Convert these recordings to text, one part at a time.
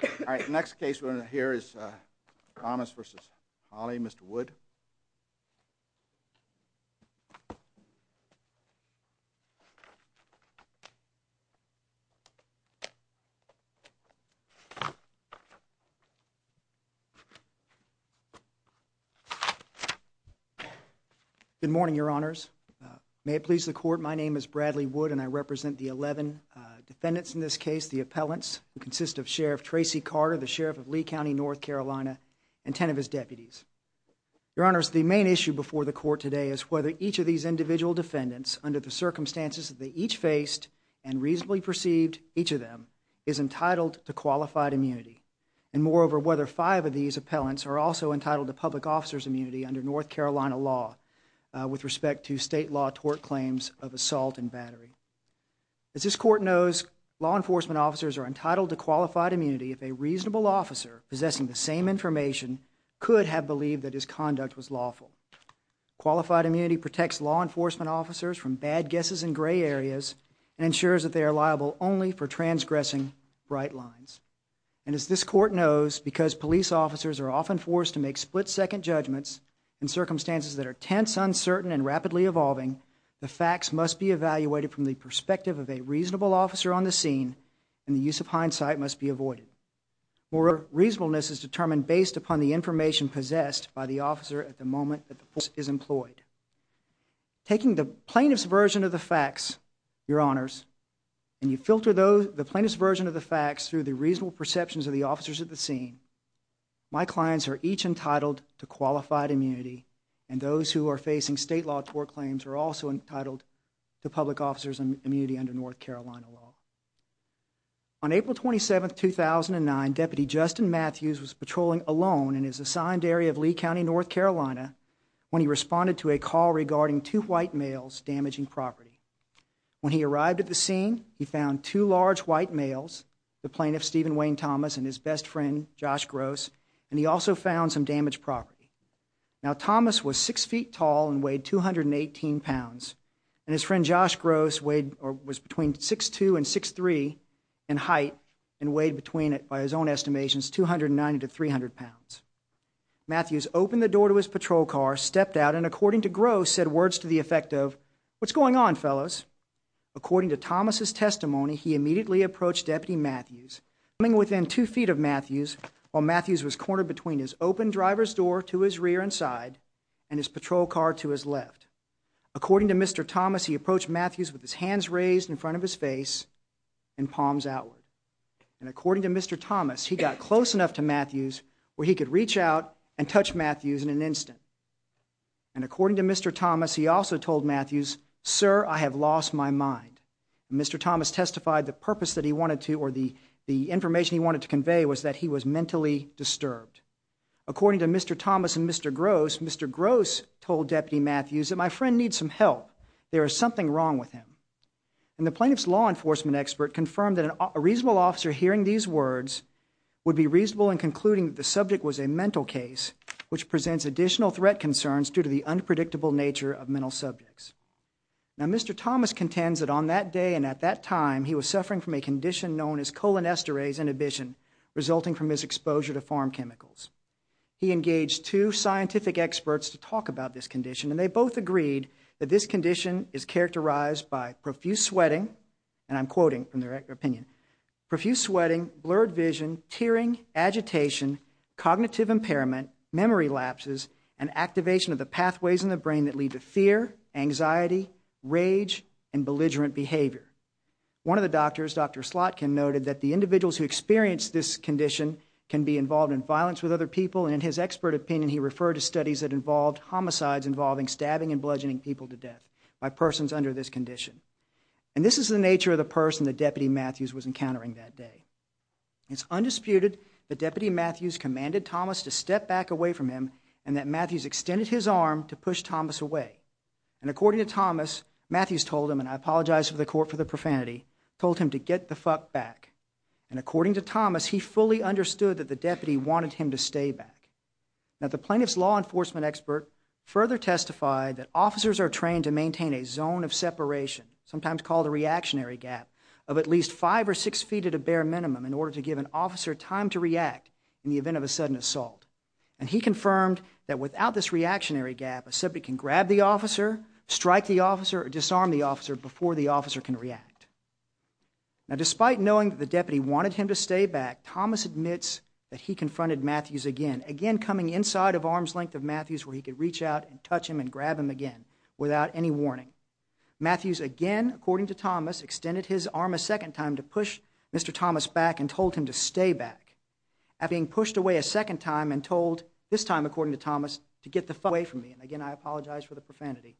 Good morning, your honors. May it please the court, my name is Bradley Wood and I represent the 11 defendants in this case, the appellants who consist of Sheriff Tracy Carter, the Sheriff of Lee County, North Carolina, and 10 of his deputies. Your honors, the main issue before the court today is whether each of these individual defendants, under the circumstances that they each faced and reasonably perceived, each of them is entitled to qualified immunity. And moreover, whether five of these appellants are also entitled to public officer's immunity under North Carolina law with respect to state law tort claims of assault and battery. As this court knows, law enforcement officers are entitled to qualified immunity if a reasonable officer possessing the same information could have believed that his conduct was lawful. Qualified immunity protects law enforcement officers from bad guesses in gray areas and ensures that they are liable only for transgressing bright lines. And as this court knows, because circumstances that are tense, uncertain, and rapidly evolving, the facts must be evaluated from the perspective of a reasonable officer on the scene and the use of hindsight must be avoided. More reasonableness is determined based upon the information possessed by the officer at the moment that the force is employed. Taking the plaintiff's version of the facts, your honors, and you filter the plaintiff's version of the facts through the reasonable qualified immunity and those who are facing state law tort claims are also entitled to public officer's immunity under North Carolina law. On April 27, 2009, Deputy Justin Matthews was patrolling alone in his assigned area of Lee County, North Carolina when he responded to a call regarding two white males damaging property. When he arrived at the scene, he found two large white males, the plaintiff Now, Thomas was six feet tall and weighed 218 pounds, and his friend Josh Gross was between 6'2 and 6'3 in height and weighed between, by his own estimations, 290 to 300 pounds. Matthews opened the door to his patrol car, stepped out, and according to Gross, said words to the effect of, what's going on, fellows? According to Thomas's testimony, he immediately approached Deputy Matthews. Coming within two feet of Matthews while Matthews was cornered between his open driver's door to his rear and side and his patrol car to his left. According to Mr. Thomas, he approached Matthews with his hands raised in front of his face and palms outward. And according to Mr. Thomas, he got close enough to Matthews where he could reach out and touch Matthews in an instant. And according to Mr. Thomas, he also told Matthews, sir, I have lost my mind. Mr. Thomas testified the purpose that he wanted to or the information he wanted to convey was that he was mentally disturbed. According to Mr. Thomas and Mr. Gross, Mr. Gross told Deputy Matthews that my friend needs some help. There is something wrong with him. And the plaintiff's law enforcement expert confirmed that a reasonable officer hearing these words would be reasonable in concluding that the subject was a mental case, which presents additional threat concerns due to the unpredictable nature of mental subjects. Now, Mr. Thomas contends that on that day and at that time, he was suffering from a condition known as colon esterase inhibition, resulting from his exposure to farm chemicals. He engaged two scientific experts to talk about this condition, and they both agreed that this condition is characterized by profuse sweating, and I'm quoting from their opinion, profuse sweating, blurred vision, tearing, agitation, cognitive impairment, memory lapses, and activation of the pathways in the brain that lead to fear, anxiety, rage, and belligerent behavior. One of the doctors, Dr. Slotkin, noted that the individuals who experience this condition can be involved in violence with other people, and in his expert opinion, he referred to studies that involved homicides involving stabbing and bludgeoning people to death by persons under this condition. And this is the nature of the person that Deputy Matthews was encountering that day. It's undisputed that Deputy Matthews commanded Thomas to step back away from him and that And according to Thomas, Matthews told him, and I apologize to the court for the profanity, told him to get the fuck back. And according to Thomas, he fully understood that the deputy wanted him to stay back. Now, the plaintiff's law enforcement expert further testified that officers are trained to maintain a zone of separation, sometimes called a reactionary gap, of at least five or six feet at a bare minimum in order to give an officer time to react in the event of a sudden assault. And he confirmed that without this reactionary gap, a subject can grab the officer, strike the officer, or disarm the officer before the officer can react. Now, despite knowing that the deputy wanted him to stay back, Thomas admits that he confronted Matthews again, again coming inside of arm's length of Matthews where he could reach out and touch him and grab him again without any warning. Matthews again, according to Thomas, extended his arm a second time to push Mr. Thomas back and told him to stay back. After being pushed away a second time and told, this time according to Thomas, to get the fuck away from me. And again, I apologize for the profanity.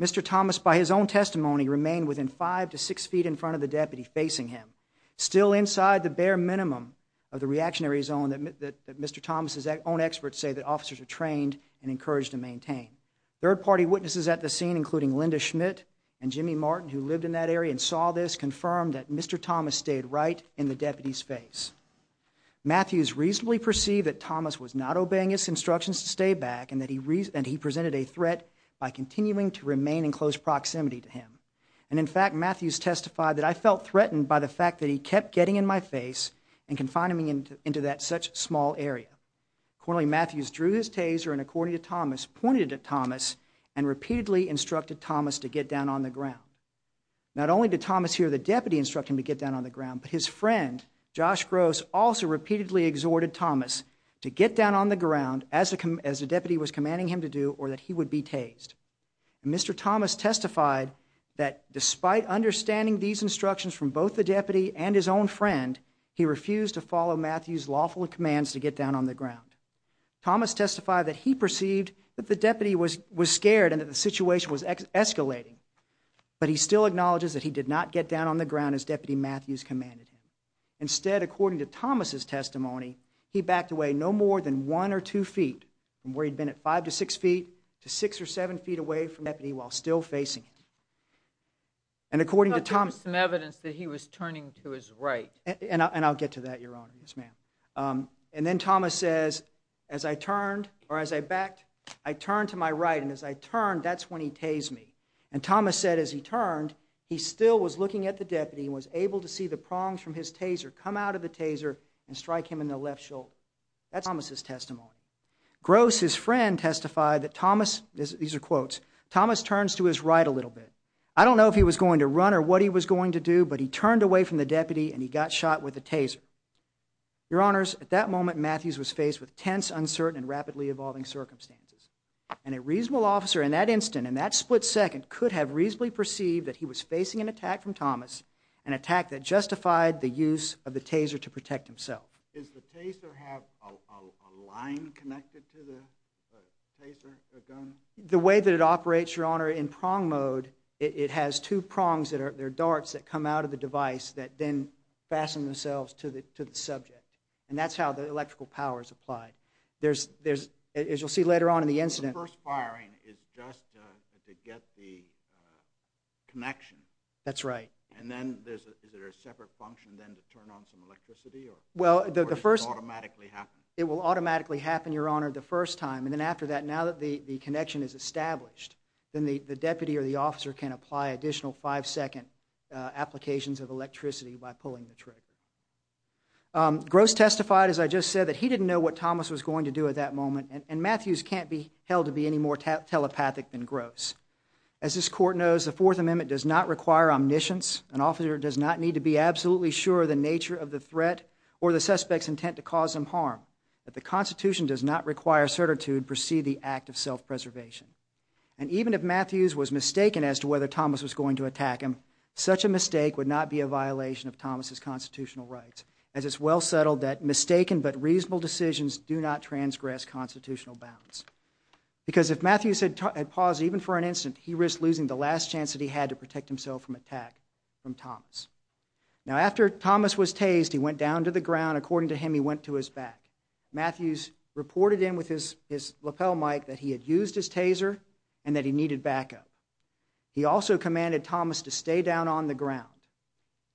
Mr. Thomas, by his own testimony, remained within five to six feet in front of the deputy facing him, still inside the bare minimum of the reactionary zone that Mr. Thomas's own experts say that officers are trained and encouraged to maintain. Third party witnesses at the scene, including Linda Schmidt and Jimmy Martin, who lived in that area and saw this, confirmed that Mr. Thomas stayed right in the deputy's face. Matthews reasonably perceived that Thomas was not obeying his instructions to stay back and that he presented a threat by continuing to remain in close proximity to him. And in fact, Matthews testified that I felt threatened by the fact that he kept getting in my face and confining me into that such small area. Accordingly, Matthews drew his taser and according to Thomas, pointed at Thomas and repeatedly instructed Thomas to get down on the ground. Not only did Thomas hear the deputy instruct him to get down on the ground, but his friend, Josh Gross, also repeatedly exhorted Thomas to get down on the ground as the deputy was commanding him to do or that he would be tased. Mr. Thomas testified that despite understanding these instructions from both the deputy and his own friend, he refused to follow Matthews' lawful commands to get down on the ground. Thomas testified that he perceived that the deputy was scared and that the situation was escalating, but he still acknowledges that he did not get down on the ground as Deputy Matthews commanded him. Instead, according to Thomas' testimony, he backed away no more than one or two feet from where he'd been at five to six feet to six or seven feet away from the deputy while still facing him. And according to Thomas... I thought there was some evidence that he was turning to his right. And I'll get to that, Your Honor. Yes, ma'am. And then Thomas says, as I turned or as I backed, I turned to my right and as I turned, that's when he tased me. And Thomas said as he turned, he still was looking at the deputy and was able to see the prongs from his taser come out of the taser and strike him in the left shoulder. That's Thomas' testimony. Gross, his friend, testified that Thomas... These are quotes. Thomas turns to his right a little bit. I don't know if he was going to run or what he was going to do, but he turned away from the deputy and he got shot with a taser. Your Honors, at that moment, Matthews was faced with tense, uncertain and rapidly evolving circumstances. And a reasonable officer in that instant, in that split second, could have reasonably perceived that he was of the taser to protect himself. Is the taser have a line connected to the taser, the gun? The way that it operates, Your Honor, in prong mode, it has two prongs that are darts that come out of the device that then fasten themselves to the subject. And that's how the electrical power is applied. There's, as you'll see later on in the incident... The first firing is just to get the connection. That's right. And then, is there a separate function then to turn on some electricity or does it automatically happen? It will automatically happen, Your Honor, the first time. And then after that, now that the connection is established, then the deputy or the officer can apply additional five-second applications of electricity by pulling the trigger. Gross testified, as I just said, that he didn't know what Thomas was going to do at that moment. And Matthews can't be held to be any more telepathic than Gross. As this Court knows, the Fourth Amendment does not require omniscience. An officer does not need to be absolutely sure of the nature of the threat or the suspect's intent to cause him harm. The Constitution does not require certitude to proceed the act of self-preservation. And even if Matthews was mistaken as to whether Thomas was going to attack him, such a mistake would not be a violation of Thomas' constitutional rights, as it's well settled that mistaken but reasonable decisions do not transgress constitutional bounds. Because if Matthews had paused even for an instant, he risked losing the last chance that he had to protect himself from attack from Thomas. Now after Thomas was tased, he went down to the ground. According to him, he went to his back. Matthews reported in with his lapel mic that he had used his taser and that he needed backup. He also commanded Thomas to stay down on the ground.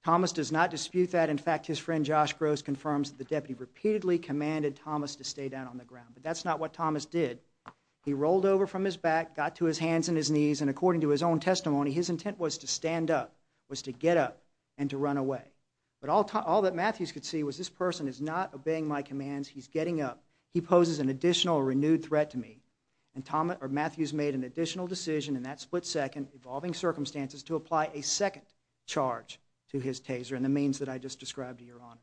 Thomas does not dispute that. In fact, his friend Josh Gross confirms that the deputy repeatedly commanded Thomas to stay down on the ground. But that's not what Thomas did. He rolled over from his back, got to his hands and his knees, and according to his own testimony, his intent was to stand up, was to get up, and to run away. But all that Matthews could see was this person is not obeying my commands. He's getting up. He poses an additional renewed threat to me. And Matthews made an additional decision in that split second, evolving circumstances, to apply a second charge to his taser and the means that I just described to Your Honor.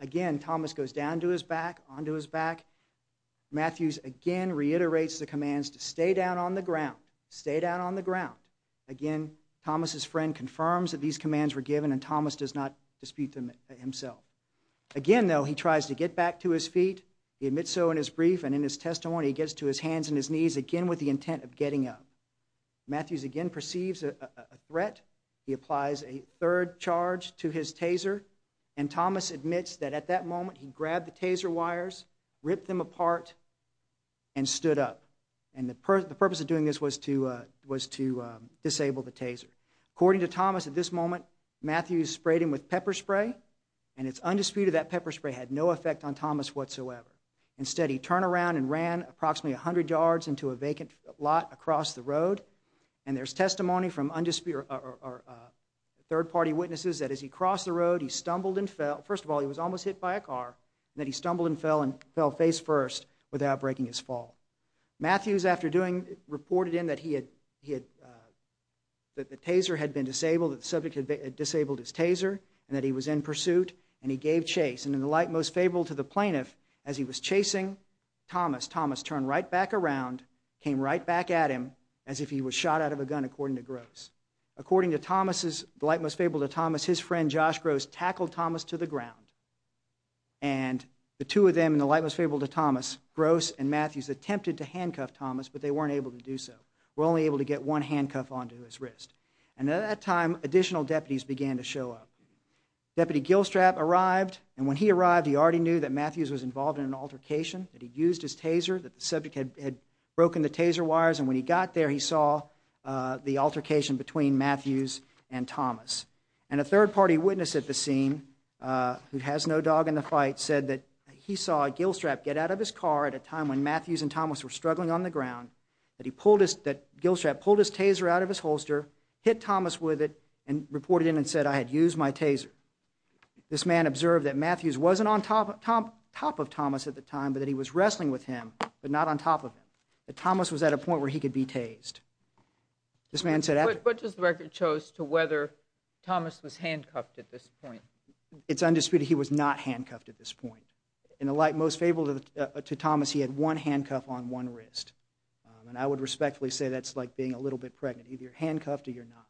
Again Thomas goes down to his back, onto his back. Matthews again reiterates the commands to stay down on the ground. Stay down on the ground. Again, Thomas' friend confirms that these commands were given and Thomas does not dispute them himself. Again though, he tries to get back to his feet. He admits so in his brief and in his testimony. He gets to his hands and his knees again with the intent of getting up. Matthews again perceives a threat. He applies a third charge to his taser and Thomas admits that at that moment he grabbed the taser wires, ripped them apart, and stood up. And the purpose of doing this was to disable the taser. According to Thomas at this moment, Matthews sprayed him with pepper spray and it's undisputed that pepper spray had no effect on Thomas whatsoever. Instead he turned around and ran approximately 100 yards into a vacant lot across the road. And there's testimony from third party witnesses that as he crossed the bar, that he stumbled and fell face first without breaking his fall. Matthews after doing, reported in that he had, that the taser had been disabled, that the subject had disabled his taser and that he was in pursuit and he gave chase. And in the light most favorable to the plaintiff, as he was chasing Thomas, Thomas turned right back around, came right back at him as if he was shot out of a gun according to Gross. According to Thomas, the plaintiff's friend Josh Gross tackled Thomas to the ground and the two of them in the light most favorable to Thomas, Gross and Matthews attempted to handcuff Thomas but they weren't able to do so. Were only able to get one handcuff onto his wrist. And at that time additional deputies began to show up. Deputy Gilstrap arrived and when he arrived he already knew that Matthews was involved in an altercation, that he'd used his taser, that the subject had broken the taser wires and when he got there he saw the altercation between Matthews and Thomas. And a third party witness at the scene, who has no dog in the fight, said that he saw Gilstrap get out of his car at a time when Matthews and Thomas were struggling on the ground, that he pulled his, that Gilstrap pulled his taser out of his holster, hit Thomas with it and reported in and said, I had used my taser. This man observed that Matthews wasn't on top of Thomas at the time but that he was wrestling with him but not on top of him. That Thomas was at a point where he could be tased. This man said after... But what does the record show as to whether Thomas was handcuffed at this point? It's undisputed he was not handcuffed at this point. In the light most favorable to Thomas he had one handcuff on one wrist. And I would respectfully say that's like being a little bit pregnant. Either you're handcuffed or you're not.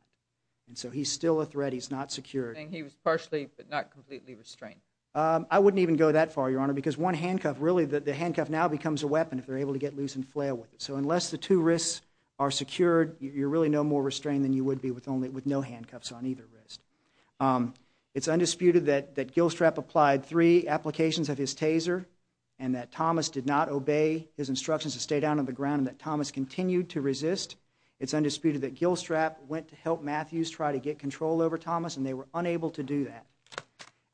And so he's still a threat, he's not secured. And he was partially but not completely restrained? I wouldn't even go that far, Your Honor, because one handcuff, really the handcuff now becomes a weapon if they're able to get loose and flare with it. So unless the two wrists are restrained then you would be with no handcuffs on either wrist. It's undisputed that Gilstrap applied three applications of his taser and that Thomas did not obey his instructions to stay down on the ground and that Thomas continued to resist. It's undisputed that Gilstrap went to help Matthews try to get control over Thomas and they were unable to do that.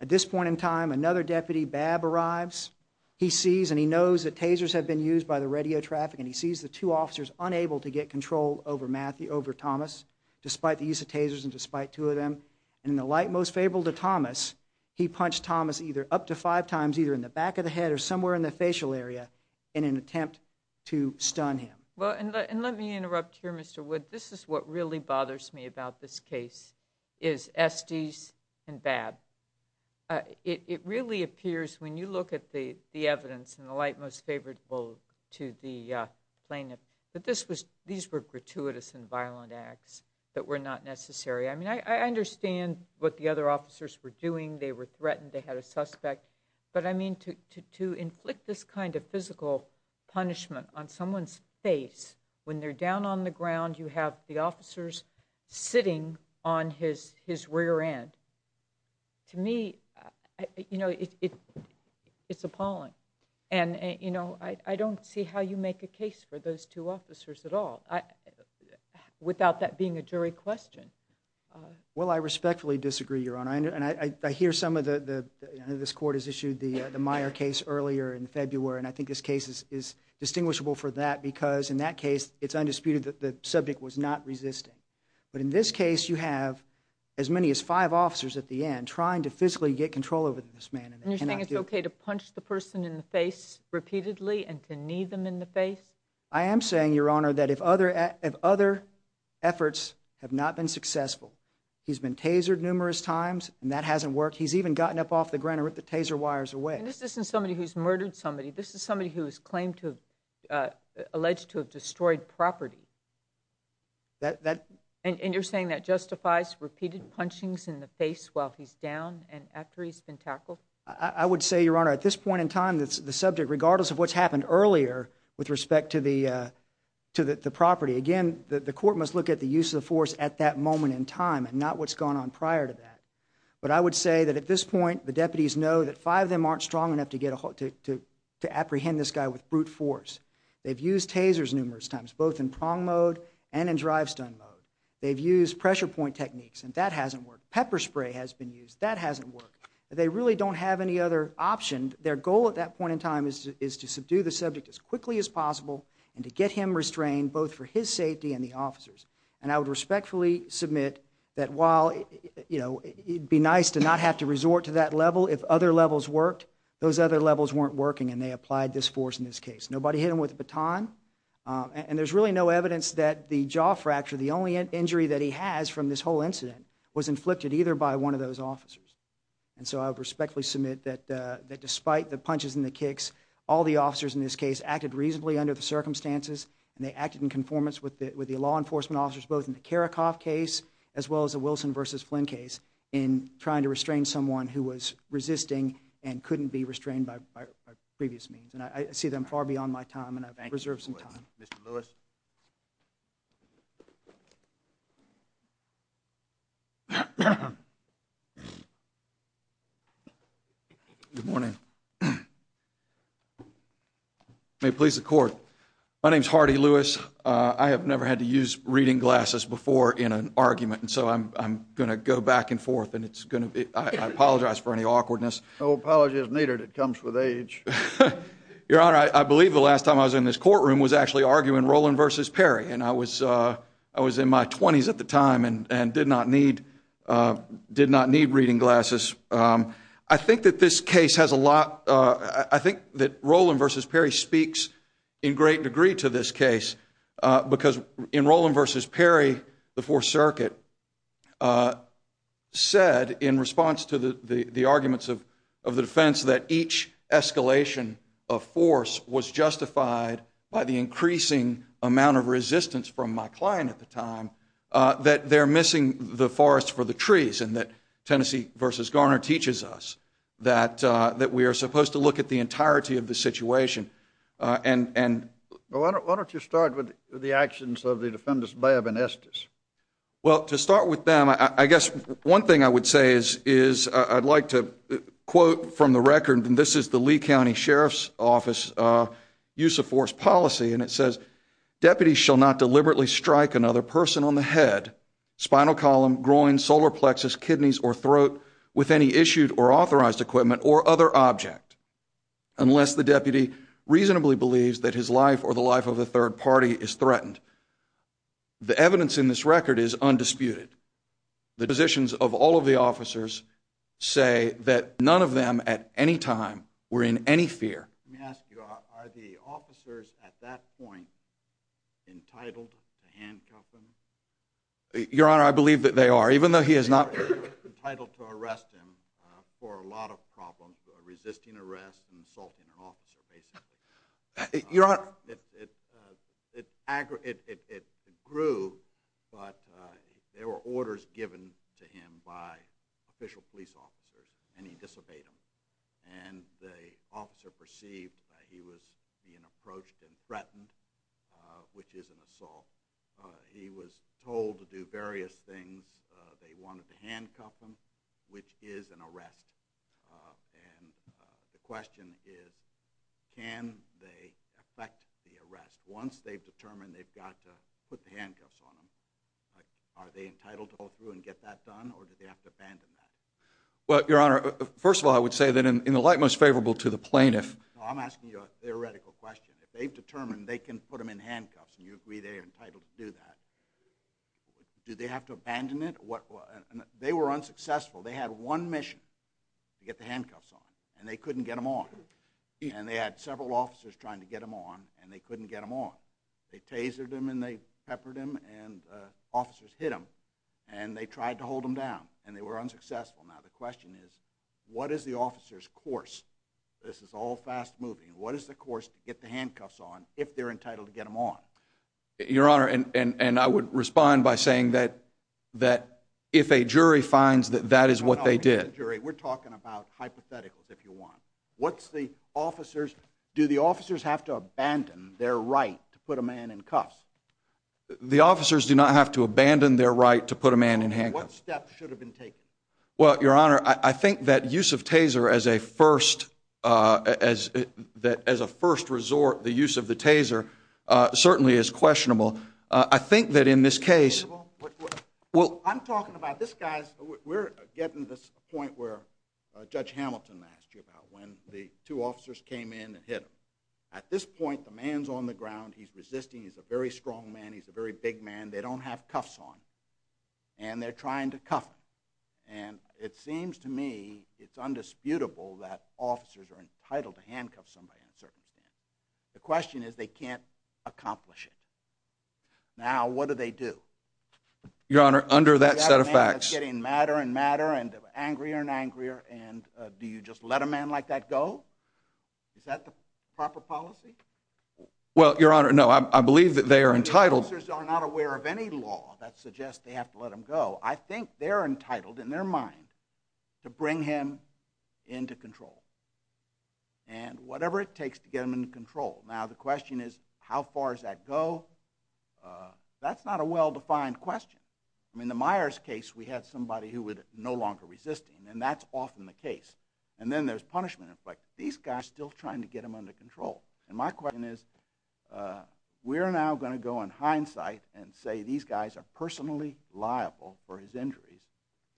At this point in time another deputy, Babb, arrives. He sees and he knows that tasers have been used by the radio traffic and he sees the two officers unable to get control over Matthew, over Thomas, despite the use of tasers and despite two of them. And in the light most favorable to Thomas, he punched Thomas either up to five times either in the back of the head or somewhere in the facial area in an attempt to stun him. And let me interrupt here, Mr. Wood. This is what really bothers me about this case, is Estes and Babb. It really appears when you look at the evidence in the light most favorable to the plaintiff that these were gratuitous and violent acts that were not necessary. I mean, I understand what the other officers were doing. They were threatened. They had a suspect. But I mean, to inflict this kind of physical punishment on someone's face, when they're down on the ground, you have the officers sitting on his rear end, to me, you know, it's appalling. And, you know, I don't see how you make a case for those two officers at all without that being a jury question. Well, I respectfully disagree, Your Honor. And I hear some of the, I know this court has issued the Meyer case earlier in February, and I think this case is distinguishable for that because in that case, it's undisputed that the subject was not resisting. But in this case, you have as many as five officers at the end trying to physically get control over this man. And you're saying it's okay to punch the person in the face repeatedly and to knee them in the face? I am saying, Your Honor, that if other efforts have not been successful, he's been tasered numerous times, and that hasn't worked. He's even gotten up off the ground and ripped the taser wires away. This isn't somebody who's murdered somebody. This is somebody who is claimed to have, alleged to have destroyed property. And you're saying that justifies repeated punchings in the face while he's down and after he's been tackled? I would say, Your Honor, at this point in time, the subject, regardless of what's happened earlier with respect to the property, again, the court must look at the use of the force at that moment in time and not what's gone on prior to that. But I would say that at this point, the deputies know that five of them aren't strong enough to apprehend this guy with brute force. They've used tasers numerous times, both in prong mode and in drive-stun mode. They've used pressure point techniques, and that hasn't worked. Pepper spray has been used. That hasn't worked. They really don't have any other option. Their goal at that point in time is to subdue the subject as quickly as possible and to get him restrained, both for his safety and the officer's. And I would respectfully submit that while, you know, it'd be nice to not have to resort to that level if other levels worked, those other levels weren't working and they applied this force in this case. Nobody hit him with a baton. And there's really no evidence that the jaw fracture, the only injury that he has from this whole incident, was inflicted either by one of those officers. And so I would respectfully submit that despite the punches and the kicks, all the officers in this case acted reasonably under the circumstances and they acted in conformance with the law enforcement officers, both in the Karakoff case as well as the Wilson v. Flynn case, in trying to restrain someone who was resisting and couldn't be restrained by previous means. And I see them far beyond my time and I reserve some time. Mr. Lewis. Good morning. May it please the Court. My name's Hardy Lewis. I have never had to use reading glasses before in an argument, and so I'm going to go back and forth and it's no apology is needed. It comes with age. Your Honor, I believe the last time I was in this courtroom was actually arguing Roland v. Perry, and I was in my 20s at the time and did not need reading glasses. I think that this case has a lot, I think that Roland v. Perry speaks in great degree to this case because in Roland v. Perry, the Fourth Circuit said in response to the arguments of the defense that each escalation of force was justified by the increasing amount of resistance from my client at the time, that they're missing the forest for the trees and that Tennessee v. Garner teaches us that we are supposed to look at the entirety of the situation and Well, why don't you start with the actions of the defendants, Babb and Estes? Well, to start with them, I guess one thing I would say is I'd like to quote from the record and this is the Lee County Sheriff's Office use of force policy and it says, deputies shall not deliberately strike another person on the head, spinal column, groin, solar plexus, kidneys or throat with any issued or authorized equipment or other object unless the deputy reasonably believes that his life or the life of a third party is threatened. The evidence in this record is undisputed. The positions of all of the officers say that none of them at any time were in any fear. Let me ask you, are the officers at that point entitled to handcuff them? Your Honor, I believe that they are, even though he is not entitled to arrest him for a lot of problems, resisting arrest and assaulting an officer, basically. Your Honor, it grew, but there were orders given to him by official police officers and he disobeyed them and the officer perceived that he was being approached and threatened, which is an assault. He was told to do various things. They wanted to handcuff him, which is an arrest. And the question is, can they affect the arrest once they've determined they've got to put the handcuffs on him? Are they entitled to go through and get that done or do they have to abandon that? Well, Your Honor, first of all, I would say that in the light most favorable to the plaintiff... You can put them in handcuffs and you agree they are entitled to do that. Do they have to abandon it? They were unsuccessful. They had one mission, to get the handcuffs on, and they couldn't get them on. And they had several officers trying to get them on and they couldn't get them on. They tasered them and they peppered them and officers hit them and they tried to hold them down and they were unsuccessful. Now, the question is, what is the officer's course? This is all fast moving. What is the course to get the handcuffs on if they're entitled to get them on? Your Honor, and I would respond by saying that if a jury finds that that is what they did... We're talking about hypotheticals, if you want. Do the officers have to abandon their right to put a man in cuffs? The officers do not have to abandon their right to put a man in handcuffs. What steps should have been taken? Well, Your Honor, I think that use of taser as a first resort, the use of the taser, certainly is questionable. I think that in this case... Well, I'm talking about this guy's... We're getting to this point where Judge Hamilton asked you about when the two officers came in and hit him. At this point, the man's on the ground. He's resisting. He's a very strong man. He's a very big man. They don't have to cuff him. And it seems to me it's undisputable that officers are entitled to handcuff somebody in a circumstance. The question is they can't accomplish it. Now, what do they do? Your Honor, under that set of facts... They have a man that's getting madder and madder and angrier and angrier, and do you just let a man like that go? Is that the proper policy? Well, Your Honor, no. I believe that they are entitled... That suggests they have to let him go. I think they're entitled, in their mind, to bring him into control. And whatever it takes to get him into control. Now, the question is how far does that go? That's not a well-defined question. In the Myers case, we had somebody who was no longer resisting, and that's often the case. And then there's punishment. But these guys are still trying to get him under control. And my question is, we're now going to go in hindsight and say these guys are personally liable for his injuries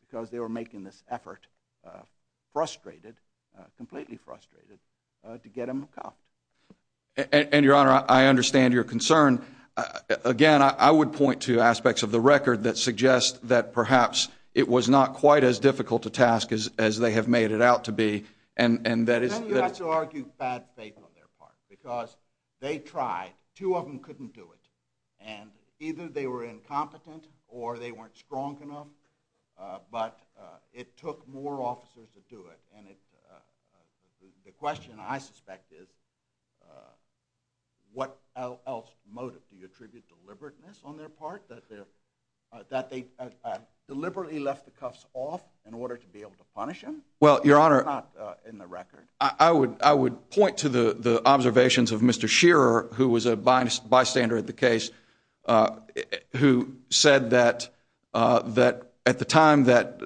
because they were making this effort, frustrated, completely frustrated, to get him cuffed. And, Your Honor, I understand your concern. Again, I would point to aspects of the record that suggest that perhaps it was not quite as difficult a task as they have made it out to be, and that is... Because they tried. Two of them couldn't do it. And either they were incompetent or they weren't strong enough. But it took more officers to do it. And the question, I suspect, is what else motive? Do you attribute deliberateness on their part? That they deliberately left the cuffs off in order to be able to punish him? Well, Your Honor... That's not in the record. I would point to the observations of Mr. Shearer, who was a bystander at the case, who said that at the time that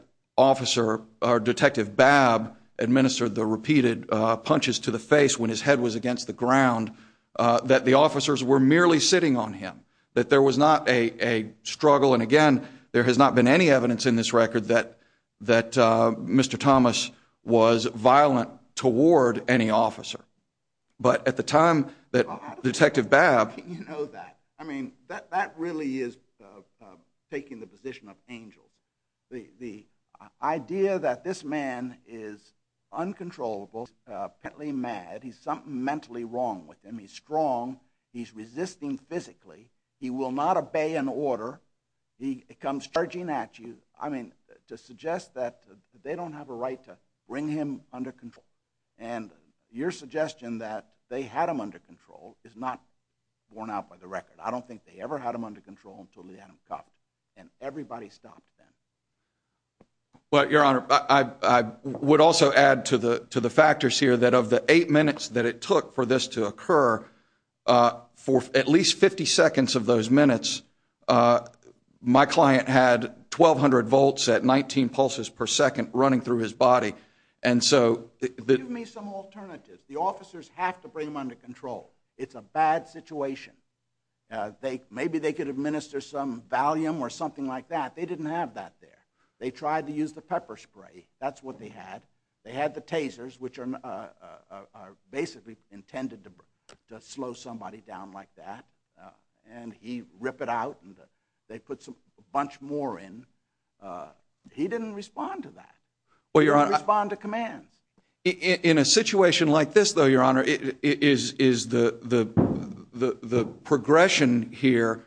Detective Babb administered the repeated punches to the face when his head was against the ground, that the officers were merely sitting on him, that there was not a struggle. And again, there has not been any evidence in this record that Mr. Thomas was violent toward any officer. But at the time that Detective Babb... You know that. I mean, that really is taking the position of angels. The idea that this man is uncontrollable, apparently mad, he's something mentally wrong with him, he's strong, he's resisting physically, he will not obey an order, he comes charging at you. I mean, to suggest that they don't have a right to bring him under control. And your suggestion that they had him under control is not borne out by the record. I don't think they ever had him under control until they had him cuffed. And everybody stopped then. Well, Your Honor, I would also add to the factors here that of the eight minutes that it took for this to occur, for at least 50 seconds of those minutes, my client had 1,200 volts at 19 pulses per second running through his body. And so... Give me some alternatives. The officers have to bring him under control. It's a bad situation. Maybe they could administer some Valium or something like that. They didn't have that there. They tried to use the pepper spray. That's what they had. They had the tasers, which are basically intended to slow somebody down like that. And he ripped it out and they put a bunch more in. He didn't respond to that. He didn't respond to commands. In a situation like this, though, Your Honor, is the progression here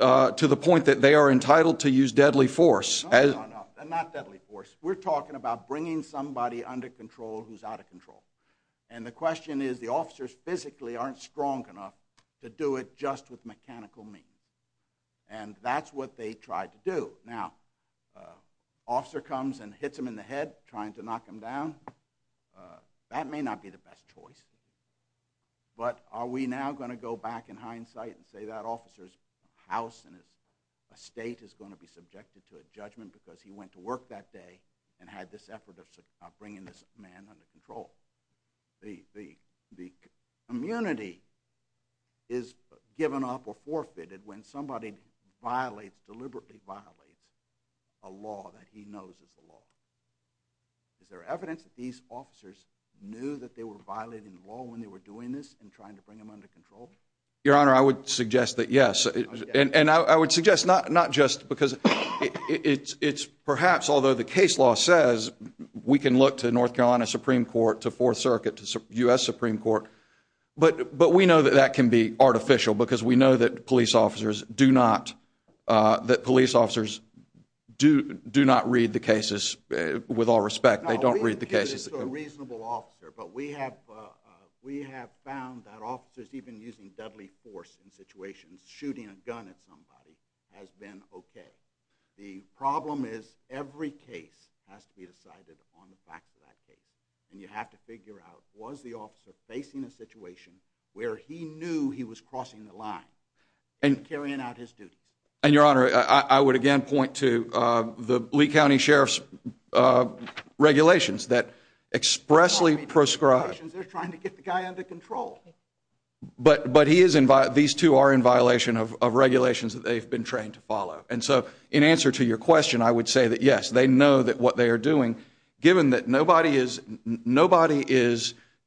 to the point that they are entitled to use deadly force? No, no, no. Not deadly force. We're talking about bringing somebody under control who's out of control. And the question is, the officers physically aren't strong enough to do it just with mechanical means. And that's what they tried to do. Now, an officer comes and hits him in the head trying to knock him down. That may not be the best choice. But are we now going to go back in hindsight and say that officer's house and his estate is going to be subjected to a judgment because he went to work that day and had this effort of bringing this man under control? The immunity is given up or forfeited when somebody deliberately violates a law that he knows is the law. Is there evidence that these officers knew that they were violating the law when they were doing this and trying to bring them under control? Your Honor, I would suggest that yes. And I would suggest not just because it's perhaps, although the case law says we can look to North Carolina Supreme Court, to Fourth Circuit, to U.S. Supreme Court. But we know that that can be artificial because we know that police officers do not, that police officers do not read the cases with all respect. They don't read the cases. No, we think it's a reasonable officer. But we have found that officers even using deadly force in situations, shooting a gun at somebody, has been okay. The problem is every case has to be decided on the back of that case. And you have to figure out, was the officer facing a situation where he knew he was crossing the line and carrying out his duties? And, Your Honor, I would again point to the Lee County Sheriff's regulations that expressly prescribe. They're trying to get the guy under control. But he is, these two are in violation of regulations that they've been trained to follow. And so in answer to your question, I would say that yes, they know that what they are doing, given that nobody is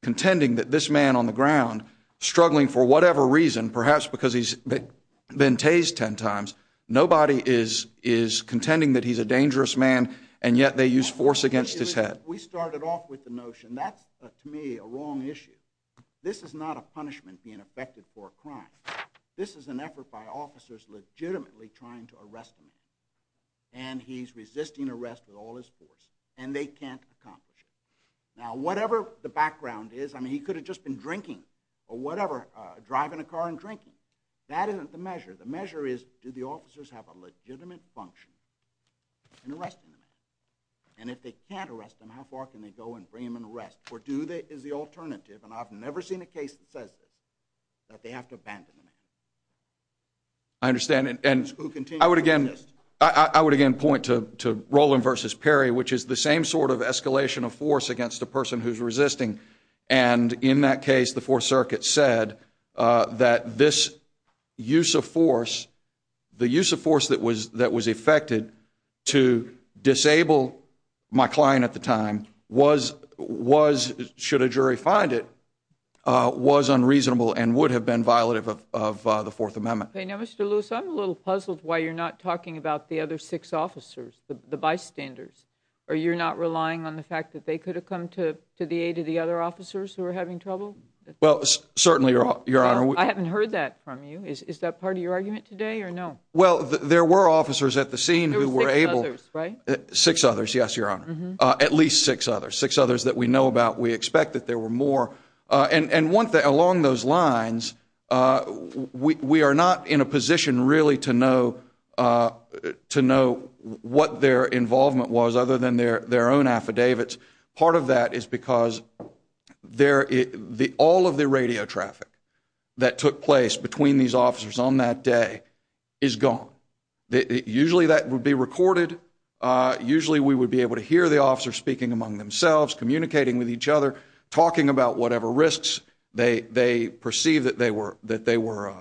contending that this man on the ground, struggling for whatever reason, perhaps because he's been tased ten times, nobody is contending that he's a dangerous man, and yet they use force against his head. But we started off with the notion that's, to me, a wrong issue. This is not a punishment being effected for a crime. This is an effort by officers legitimately trying to arrest him. And he's resisting arrest with all his force. And they can't accomplish it. Now, whatever the background is, I mean, he could have just been drinking, or whatever, driving a car and drinking. That isn't the measure. The measure is, do the officers have a legitimate function in arresting the man? And if they can't arrest him, how far can they go in bringing him into arrest? Or do they, is the alternative, and I've never seen a case that says this, that they have to abandon the man? I understand. And I would again, I would again point to Roland versus Perry, which is the same sort of escalation of force against a person who's resisting. And in that case, the Fourth Circuit said that this use of force, the use of force that was effected to disable my client at the time was, should a jury find it, was unreasonable and would have been violative of the Fourth Amendment. Now, Mr. Lewis, I'm a little puzzled why you're not talking about the other six officers, the bystanders, or you're not relying on the fact that they could have come to the aid of the other officers who were having trouble? Well, certainly, Your Honor. I haven't heard that from you. Is that part of your argument today or no? Well, there were officers at the scene who were able There were six others, right? Six others, yes, Your Honor. At least six others. Six others that we know about. We expect that there were more. And along those lines, we are not in a position really to know what their involvement was other than their own affidavits. Part of that is because all of the radio traffic that took place between these officers on that day is gone. Usually that would be recorded. Usually we would be able to hear the officers speaking among themselves, communicating with each other, talking about whatever risks they perceived that they were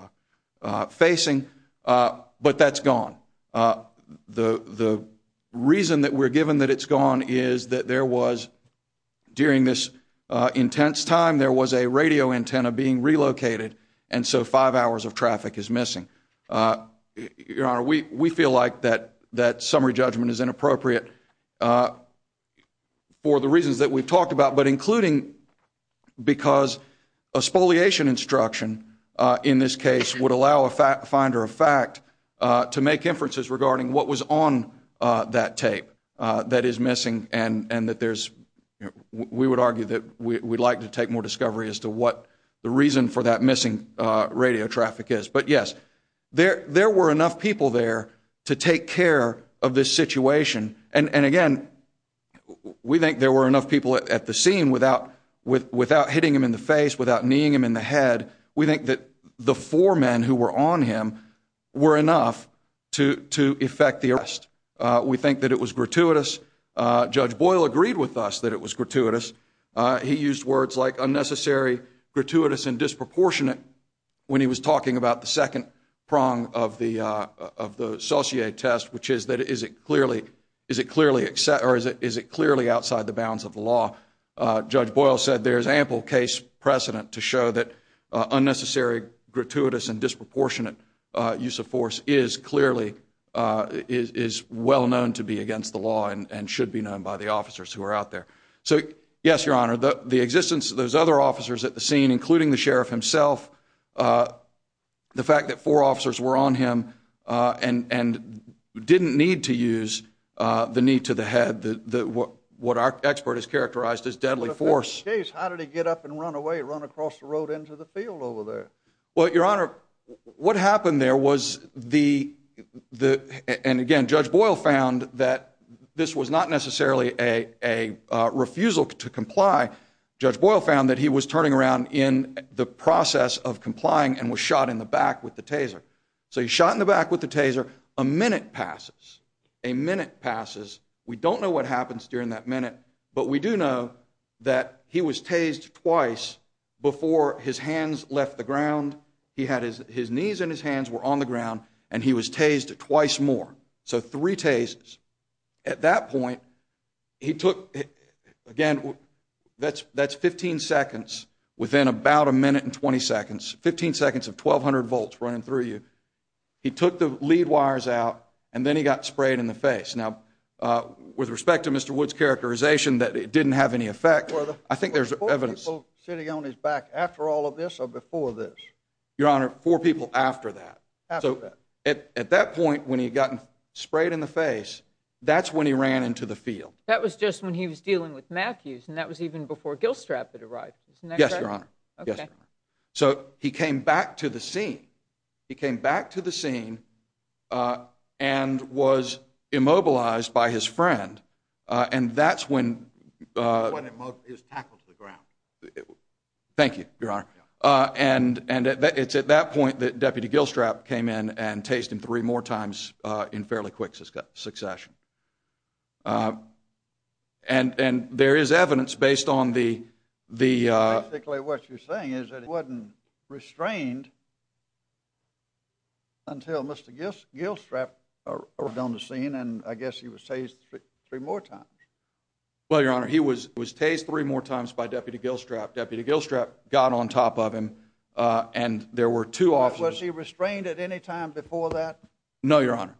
facing. But that's gone. The reason that we're given that it's intense time, there was a radio antenna being relocated, and so five hours of traffic is missing. Your Honor, we feel like that summary judgment is inappropriate for the reasons that we've talked about, but including because a spoliation instruction in this case would allow a finder of fact to make inferences regarding what was on that tape that is missing and that there's, we would argue that we'd like to take more discovery as to what the reason for that missing radio traffic is. But yes, there were enough people there to take care of this situation. And again, we think there were enough people at the scene without hitting him in the face, without kneeing him in the head. We think that the four men who were on him were enough to effect the arrest. We think that it was gratuitous. Judge Boyle agreed with us that it was gratuitous. He used words like unnecessary, gratuitous, and disproportionate when he was talking about the second prong of the Saussure test, which is that is it clearly outside the bounds of the law. Judge Boyle said there's ample case precedent to show that unnecessary, gratuitous, and disproportionate use of force is clearly, is well known to be against the law and should be known by the officers who are out there. So yes, Your Honor, the existence of those other officers at the scene, including the sheriff himself, the fact that four officers were on him and didn't need to use the knee to the head, what our expert has characterized as deadly force. In this case, how did he get up and run away, run across the road into the field over there? Well, Your Honor, what happened there was the, and again, Judge Boyle found that this was not necessarily a refusal to comply. Judge Boyle found that he was turning around in the process of complying and was shot in the back with the taser. So he's shot in the back with the taser. A minute passes. A minute passes. We don't know what happens during that minute, but we do know that he was tased twice before his hands left the ground. He had his knees and his hands were on the ground, and he was tased twice more. So three tases. At that point, he took, again, that's 15 seconds within about a minute and 20 seconds, 15 seconds of 1,200 volts running through you. He took the lead wires out, and then he got sprayed in the face. Now, with respect to Mr. Wood's characterization that it didn't have any effect, I think there's evidence. Were there four people sitting on his back after all of this or before this? Your Honor, four people after that. After that. So at that point, when he had gotten sprayed in the face, that's when he ran into the field. That was just when he was dealing with Matthews, and that was even before Gilstrap had arrived. Isn't that correct? Yes, Your Honor. Okay. So he came back to the scene. He came back to the scene and was immobilized by his friend, and that's when... When he was tackled to the ground. Thank you, Your Honor. And it's at that point that Deputy Gilstrap came in and tased him three more times in fairly quick succession. And there is evidence based on the... Basically, what you're saying is that he wasn't restrained until Mr. Gilstrap arrived on the scene, and I guess he was tased three more times. Well, Your Honor, he was tased three more times by Deputy Gilstrap. Deputy Gilstrap got on top of him, and there were two officers... Was he restrained at any time before that? No, Your Honor.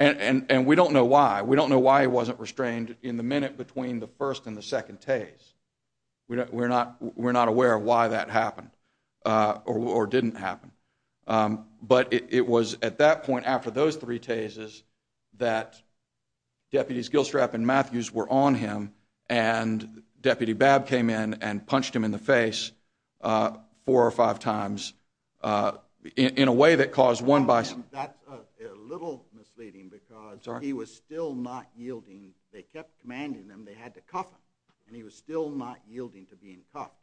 And we don't know why. We don't know why he wasn't restrained in the minute between the first and the second tase. We're not aware of why that happened or didn't happen. But it was at that point after those three tases that Deputies Gilstrap and Matthews were on him, and Deputy Babb came in and punched him in the face four or five times in a way that caused one by... That's a little misleading because he was still not yielding. They kept commanding him. They had to cuff him, and he was still not yielding to being cuffed.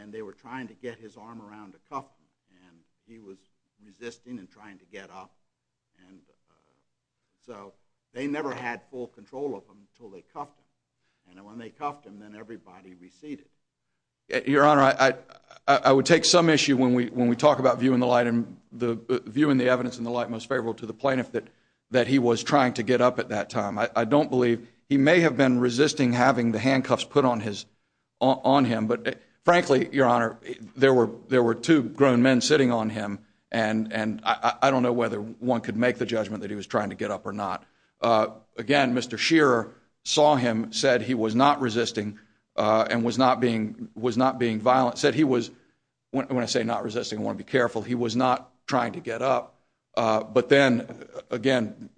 And they were trying to get his arm around to cuff him, and he was resisting and trying to get up. So they never had full control of him until they cuffed him. And when they cuffed him, then everybody receded. Your Honor, I would take some issue when we talk about viewing the evidence in the light most favorable to the plaintiff that he was trying to get up at that time. I don't believe he may have been resisting having the handcuffs put on him, but frankly, Your Honor, there were two grown men sitting on him, and I don't know whether one could make the judgment that he was trying to get up or not. Again, Mr. Shearer saw him, said he was not resisting and was not being violent, said he was, when I say not resisting, I want to be careful, he was not trying to get up. But then, again,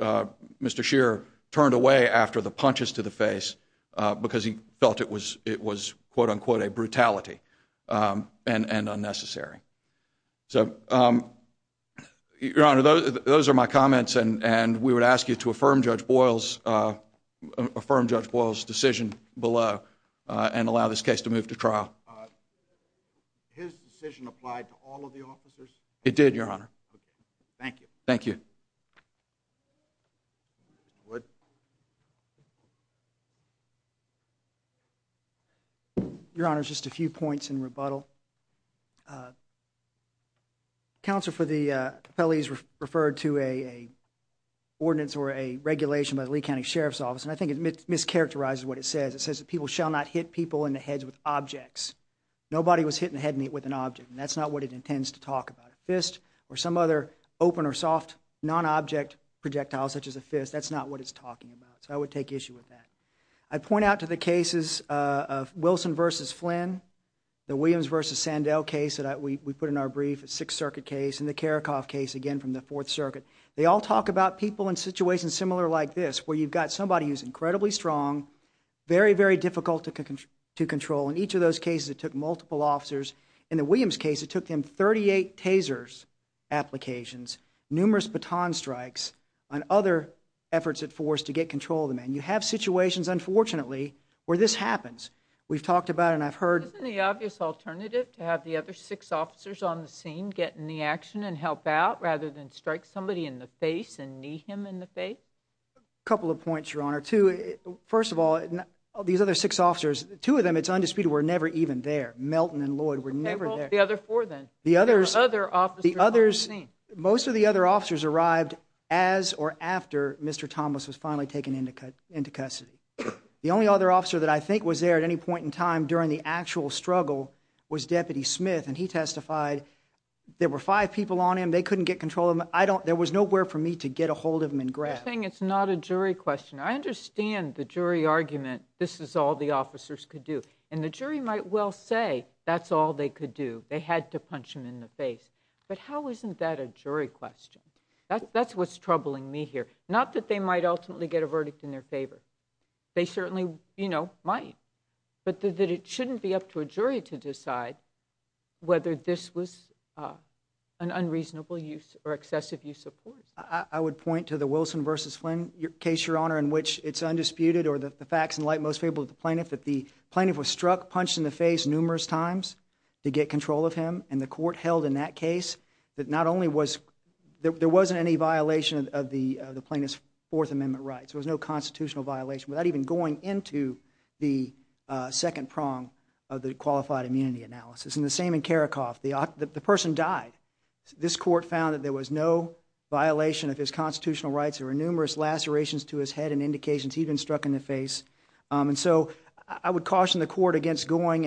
Mr. Shearer turned away after the punches to the face because he felt it was, quote-unquote, a brutality and unnecessary. So, Your Honor, those are my comments, and we would ask you to affirm Judge Boyle's decision below and allow this case to move to trial. His decision applied to all of the officers? It did, Your Honor. Thank you. Thank you. Wood. Your Honor, just a few points in rebuttal. Counsel for the Capelli's referred to an ordinance or a regulation by the Lee County Sheriff's Office, and I think it mischaracterizes what it says. It says that people shall not hit people in the heads with objects. Nobody was hitting a head with an object, and that's not what it intends to talk about. A fist or some other open or soft non-object projectile, such as a fist, that's not what it's talking about. So I would take issue with that. I'd point out to the cases of Wilson v. Flynn, the Williams v. Sandell case that we put in our brief, a Sixth Circuit case, and the Karakoff case, again, from the Fourth Circuit. They all talk about people in situations similar like this, where you've got somebody who's incredibly strong, very, very difficult to control. In each of those cases, it took multiple officers. In the Williams case, it took them 38 tasers applications, numerous baton strikes, and other efforts at force to get control of the man. You have situations, unfortunately, where this happens. We've talked about it, and I've heard— Isn't the obvious alternative to have the other six officers on the scene getting the action and help out rather than strike somebody in the face and knee him in the face? A couple of points, Your Honor. First of all, these other six officers, two of them, it's undisputed, were never even there. Melton and Lloyd were never there. Okay, well, the other four, then. The others— The other officers on the scene. Most of the other officers arrived as or after Mr. Thomas was finally taken into custody. The only other officer that I think was there at any point in time during the actual struggle was Deputy Smith, and he testified. There were five people on him. They couldn't get control of him. There was nowhere for me to get a hold of him and grab him. You're saying it's not a jury question. I understand the jury argument, this is all the officers could do. And the jury might well say that's all they could do. They had to punch him in the face. But how isn't that a jury question? That's what's troubling me here. Not that they might ultimately get a verdict in their favor. They certainly, you know, might. But that it shouldn't be up to a jury to decide whether this was an unreasonable use or excessive use of force. I would point to the Wilson v. Flynn case, Your Honor, in which it's undisputed or the facts in light most favorable to the plaintiff that the plaintiff was struck, punched in the face numerous times to get control of him. And the court held in that case that not only was there wasn't any violation of the plaintiff's Fourth Amendment rights, there was no constitutional violation, without even going into the second prong of the qualified immunity analysis. And the same in Karakoff. The person died. This court found that there was no violation of his constitutional rights. There were numerous lacerations to his head and indications he'd been struck in the face. And so I would caution the court against going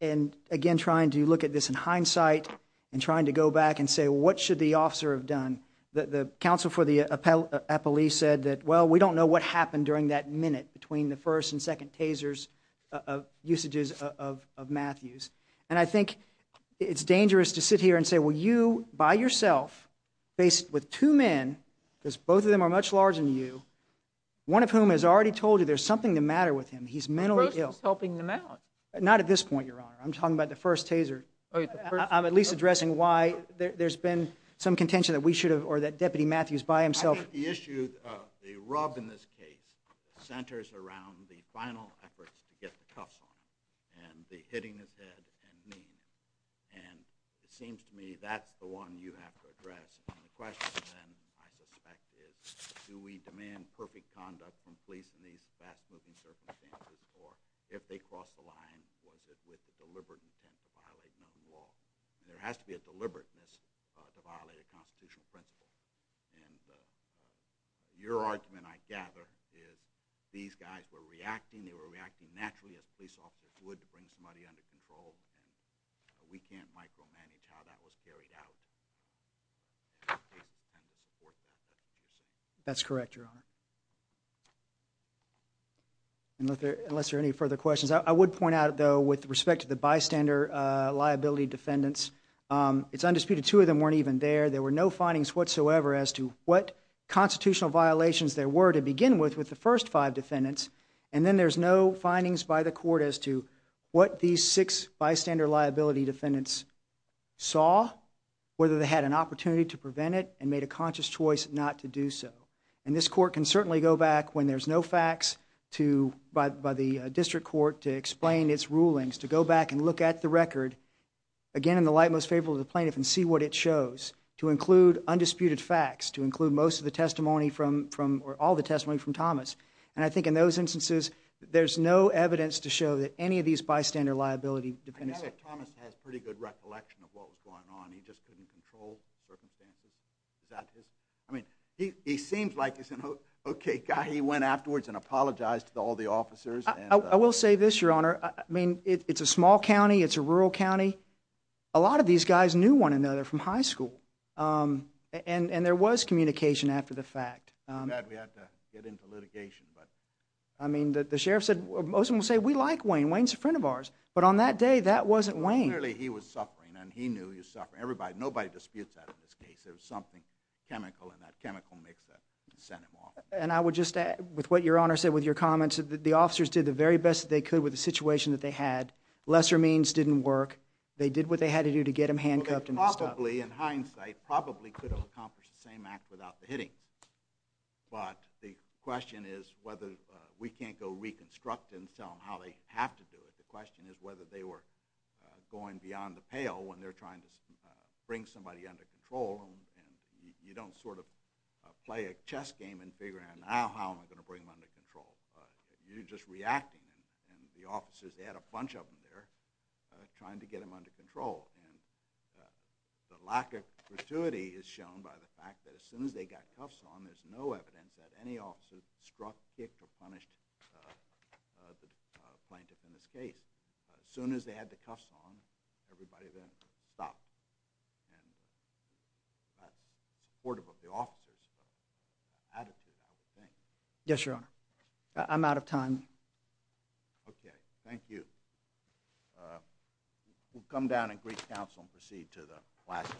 and, again, trying to look at this in hindsight and trying to go back and say, well, what should the officer have done? The counsel for the appellee said that, well, we don't know what happened during that minute between the first and second tasers of usages of Matthews. And I think it's dangerous to sit here and say, well, you, by yourself, faced with two men, because both of them are much larger than you, one of whom has already told you there's something the matter with him. He's mentally ill. Bruce was helping them out. Not at this point, Your Honor. I'm talking about the first taser. I'm at least addressing why there's been some contention that we should have or that Deputy Matthews by himself. I think the issue of the rub in this case centers around the final efforts to get the cuffs on him and the hitting his head and knee. And it seems to me that's the one you have to address. And the question, then, I suspect, is do we demand perfect conduct from police in these fast-moving circumstances, or if they cross the line, was it with the deliberate intent to violate known law? There has to be a deliberateness to violate a constitutional principle. And your argument, I gather, is these guys were reacting. They were reacting naturally as police officers would to bring somebody under control. We can't micromanage how that was carried out. That's correct, Your Honor. Unless there are any further questions. I would point out, though, with respect to the bystander liability defendants, it's undisputed two of them weren't even there. There were no findings whatsoever as to what constitutional violations there were to begin with with the first five defendants. And then there's no findings by the court as to what these six bystander liability defendants saw, whether they had an opportunity to prevent it and made a conscious choice not to do so. And this court can certainly go back when there's no facts by the district court to explain its rulings, to go back and look at the record, again, in the light most favorable to the plaintiff and see what it shows, to include undisputed facts, to include most of the testimony or all the testimony from Thomas. And I think in those instances, there's no evidence to show that any of these bystander liability defendants. I know that Thomas has pretty good recollection of what was going on. He just couldn't control the circumstances. I mean, he seems like he's an okay guy. He went afterwards and apologized to all the officers. I will say this, Your Honor. I mean, it's a small county. It's a rural county. A lot of these guys knew one another from high school. And there was communication after the fact. Too bad we had to get into litigation. I mean, the sheriff said, most of them will say, we like Wayne. Wayne's a friend of ours. But on that day, that wasn't Wayne. Clearly, he was suffering, and he knew he was suffering. Nobody disputes that in this case. There was something chemical in that chemical mix that sent him off. And I would just add, with what Your Honor said, with your comments, the officers did the very best that they could with the situation that they had. Lesser means didn't work. They did what they had to do to get him handcuffed and stuff. Dudley, in hindsight, probably could have accomplished the same act without the hittings. But the question is whether we can't go reconstruct and tell them how they have to do it. The question is whether they were going beyond the pale when they're trying to bring somebody under control. And you don't sort of play a chess game and figure out, now how am I going to bring them under control? You're just reacting. And the officers, they had a bunch of them there trying to get him under control. And the lack of gratuity is shown by the fact that as soon as they got cuffs on, there's no evidence that any officer struck, kicked, or punished the plaintiff in this case. As soon as they had the cuffs on, everybody then stopped. And that's supportive of the officers' attitude, I would think. Yes, Your Honor. I'm out of time. Okay. Thank you. We'll come down and greet counsel and proceed to the last case.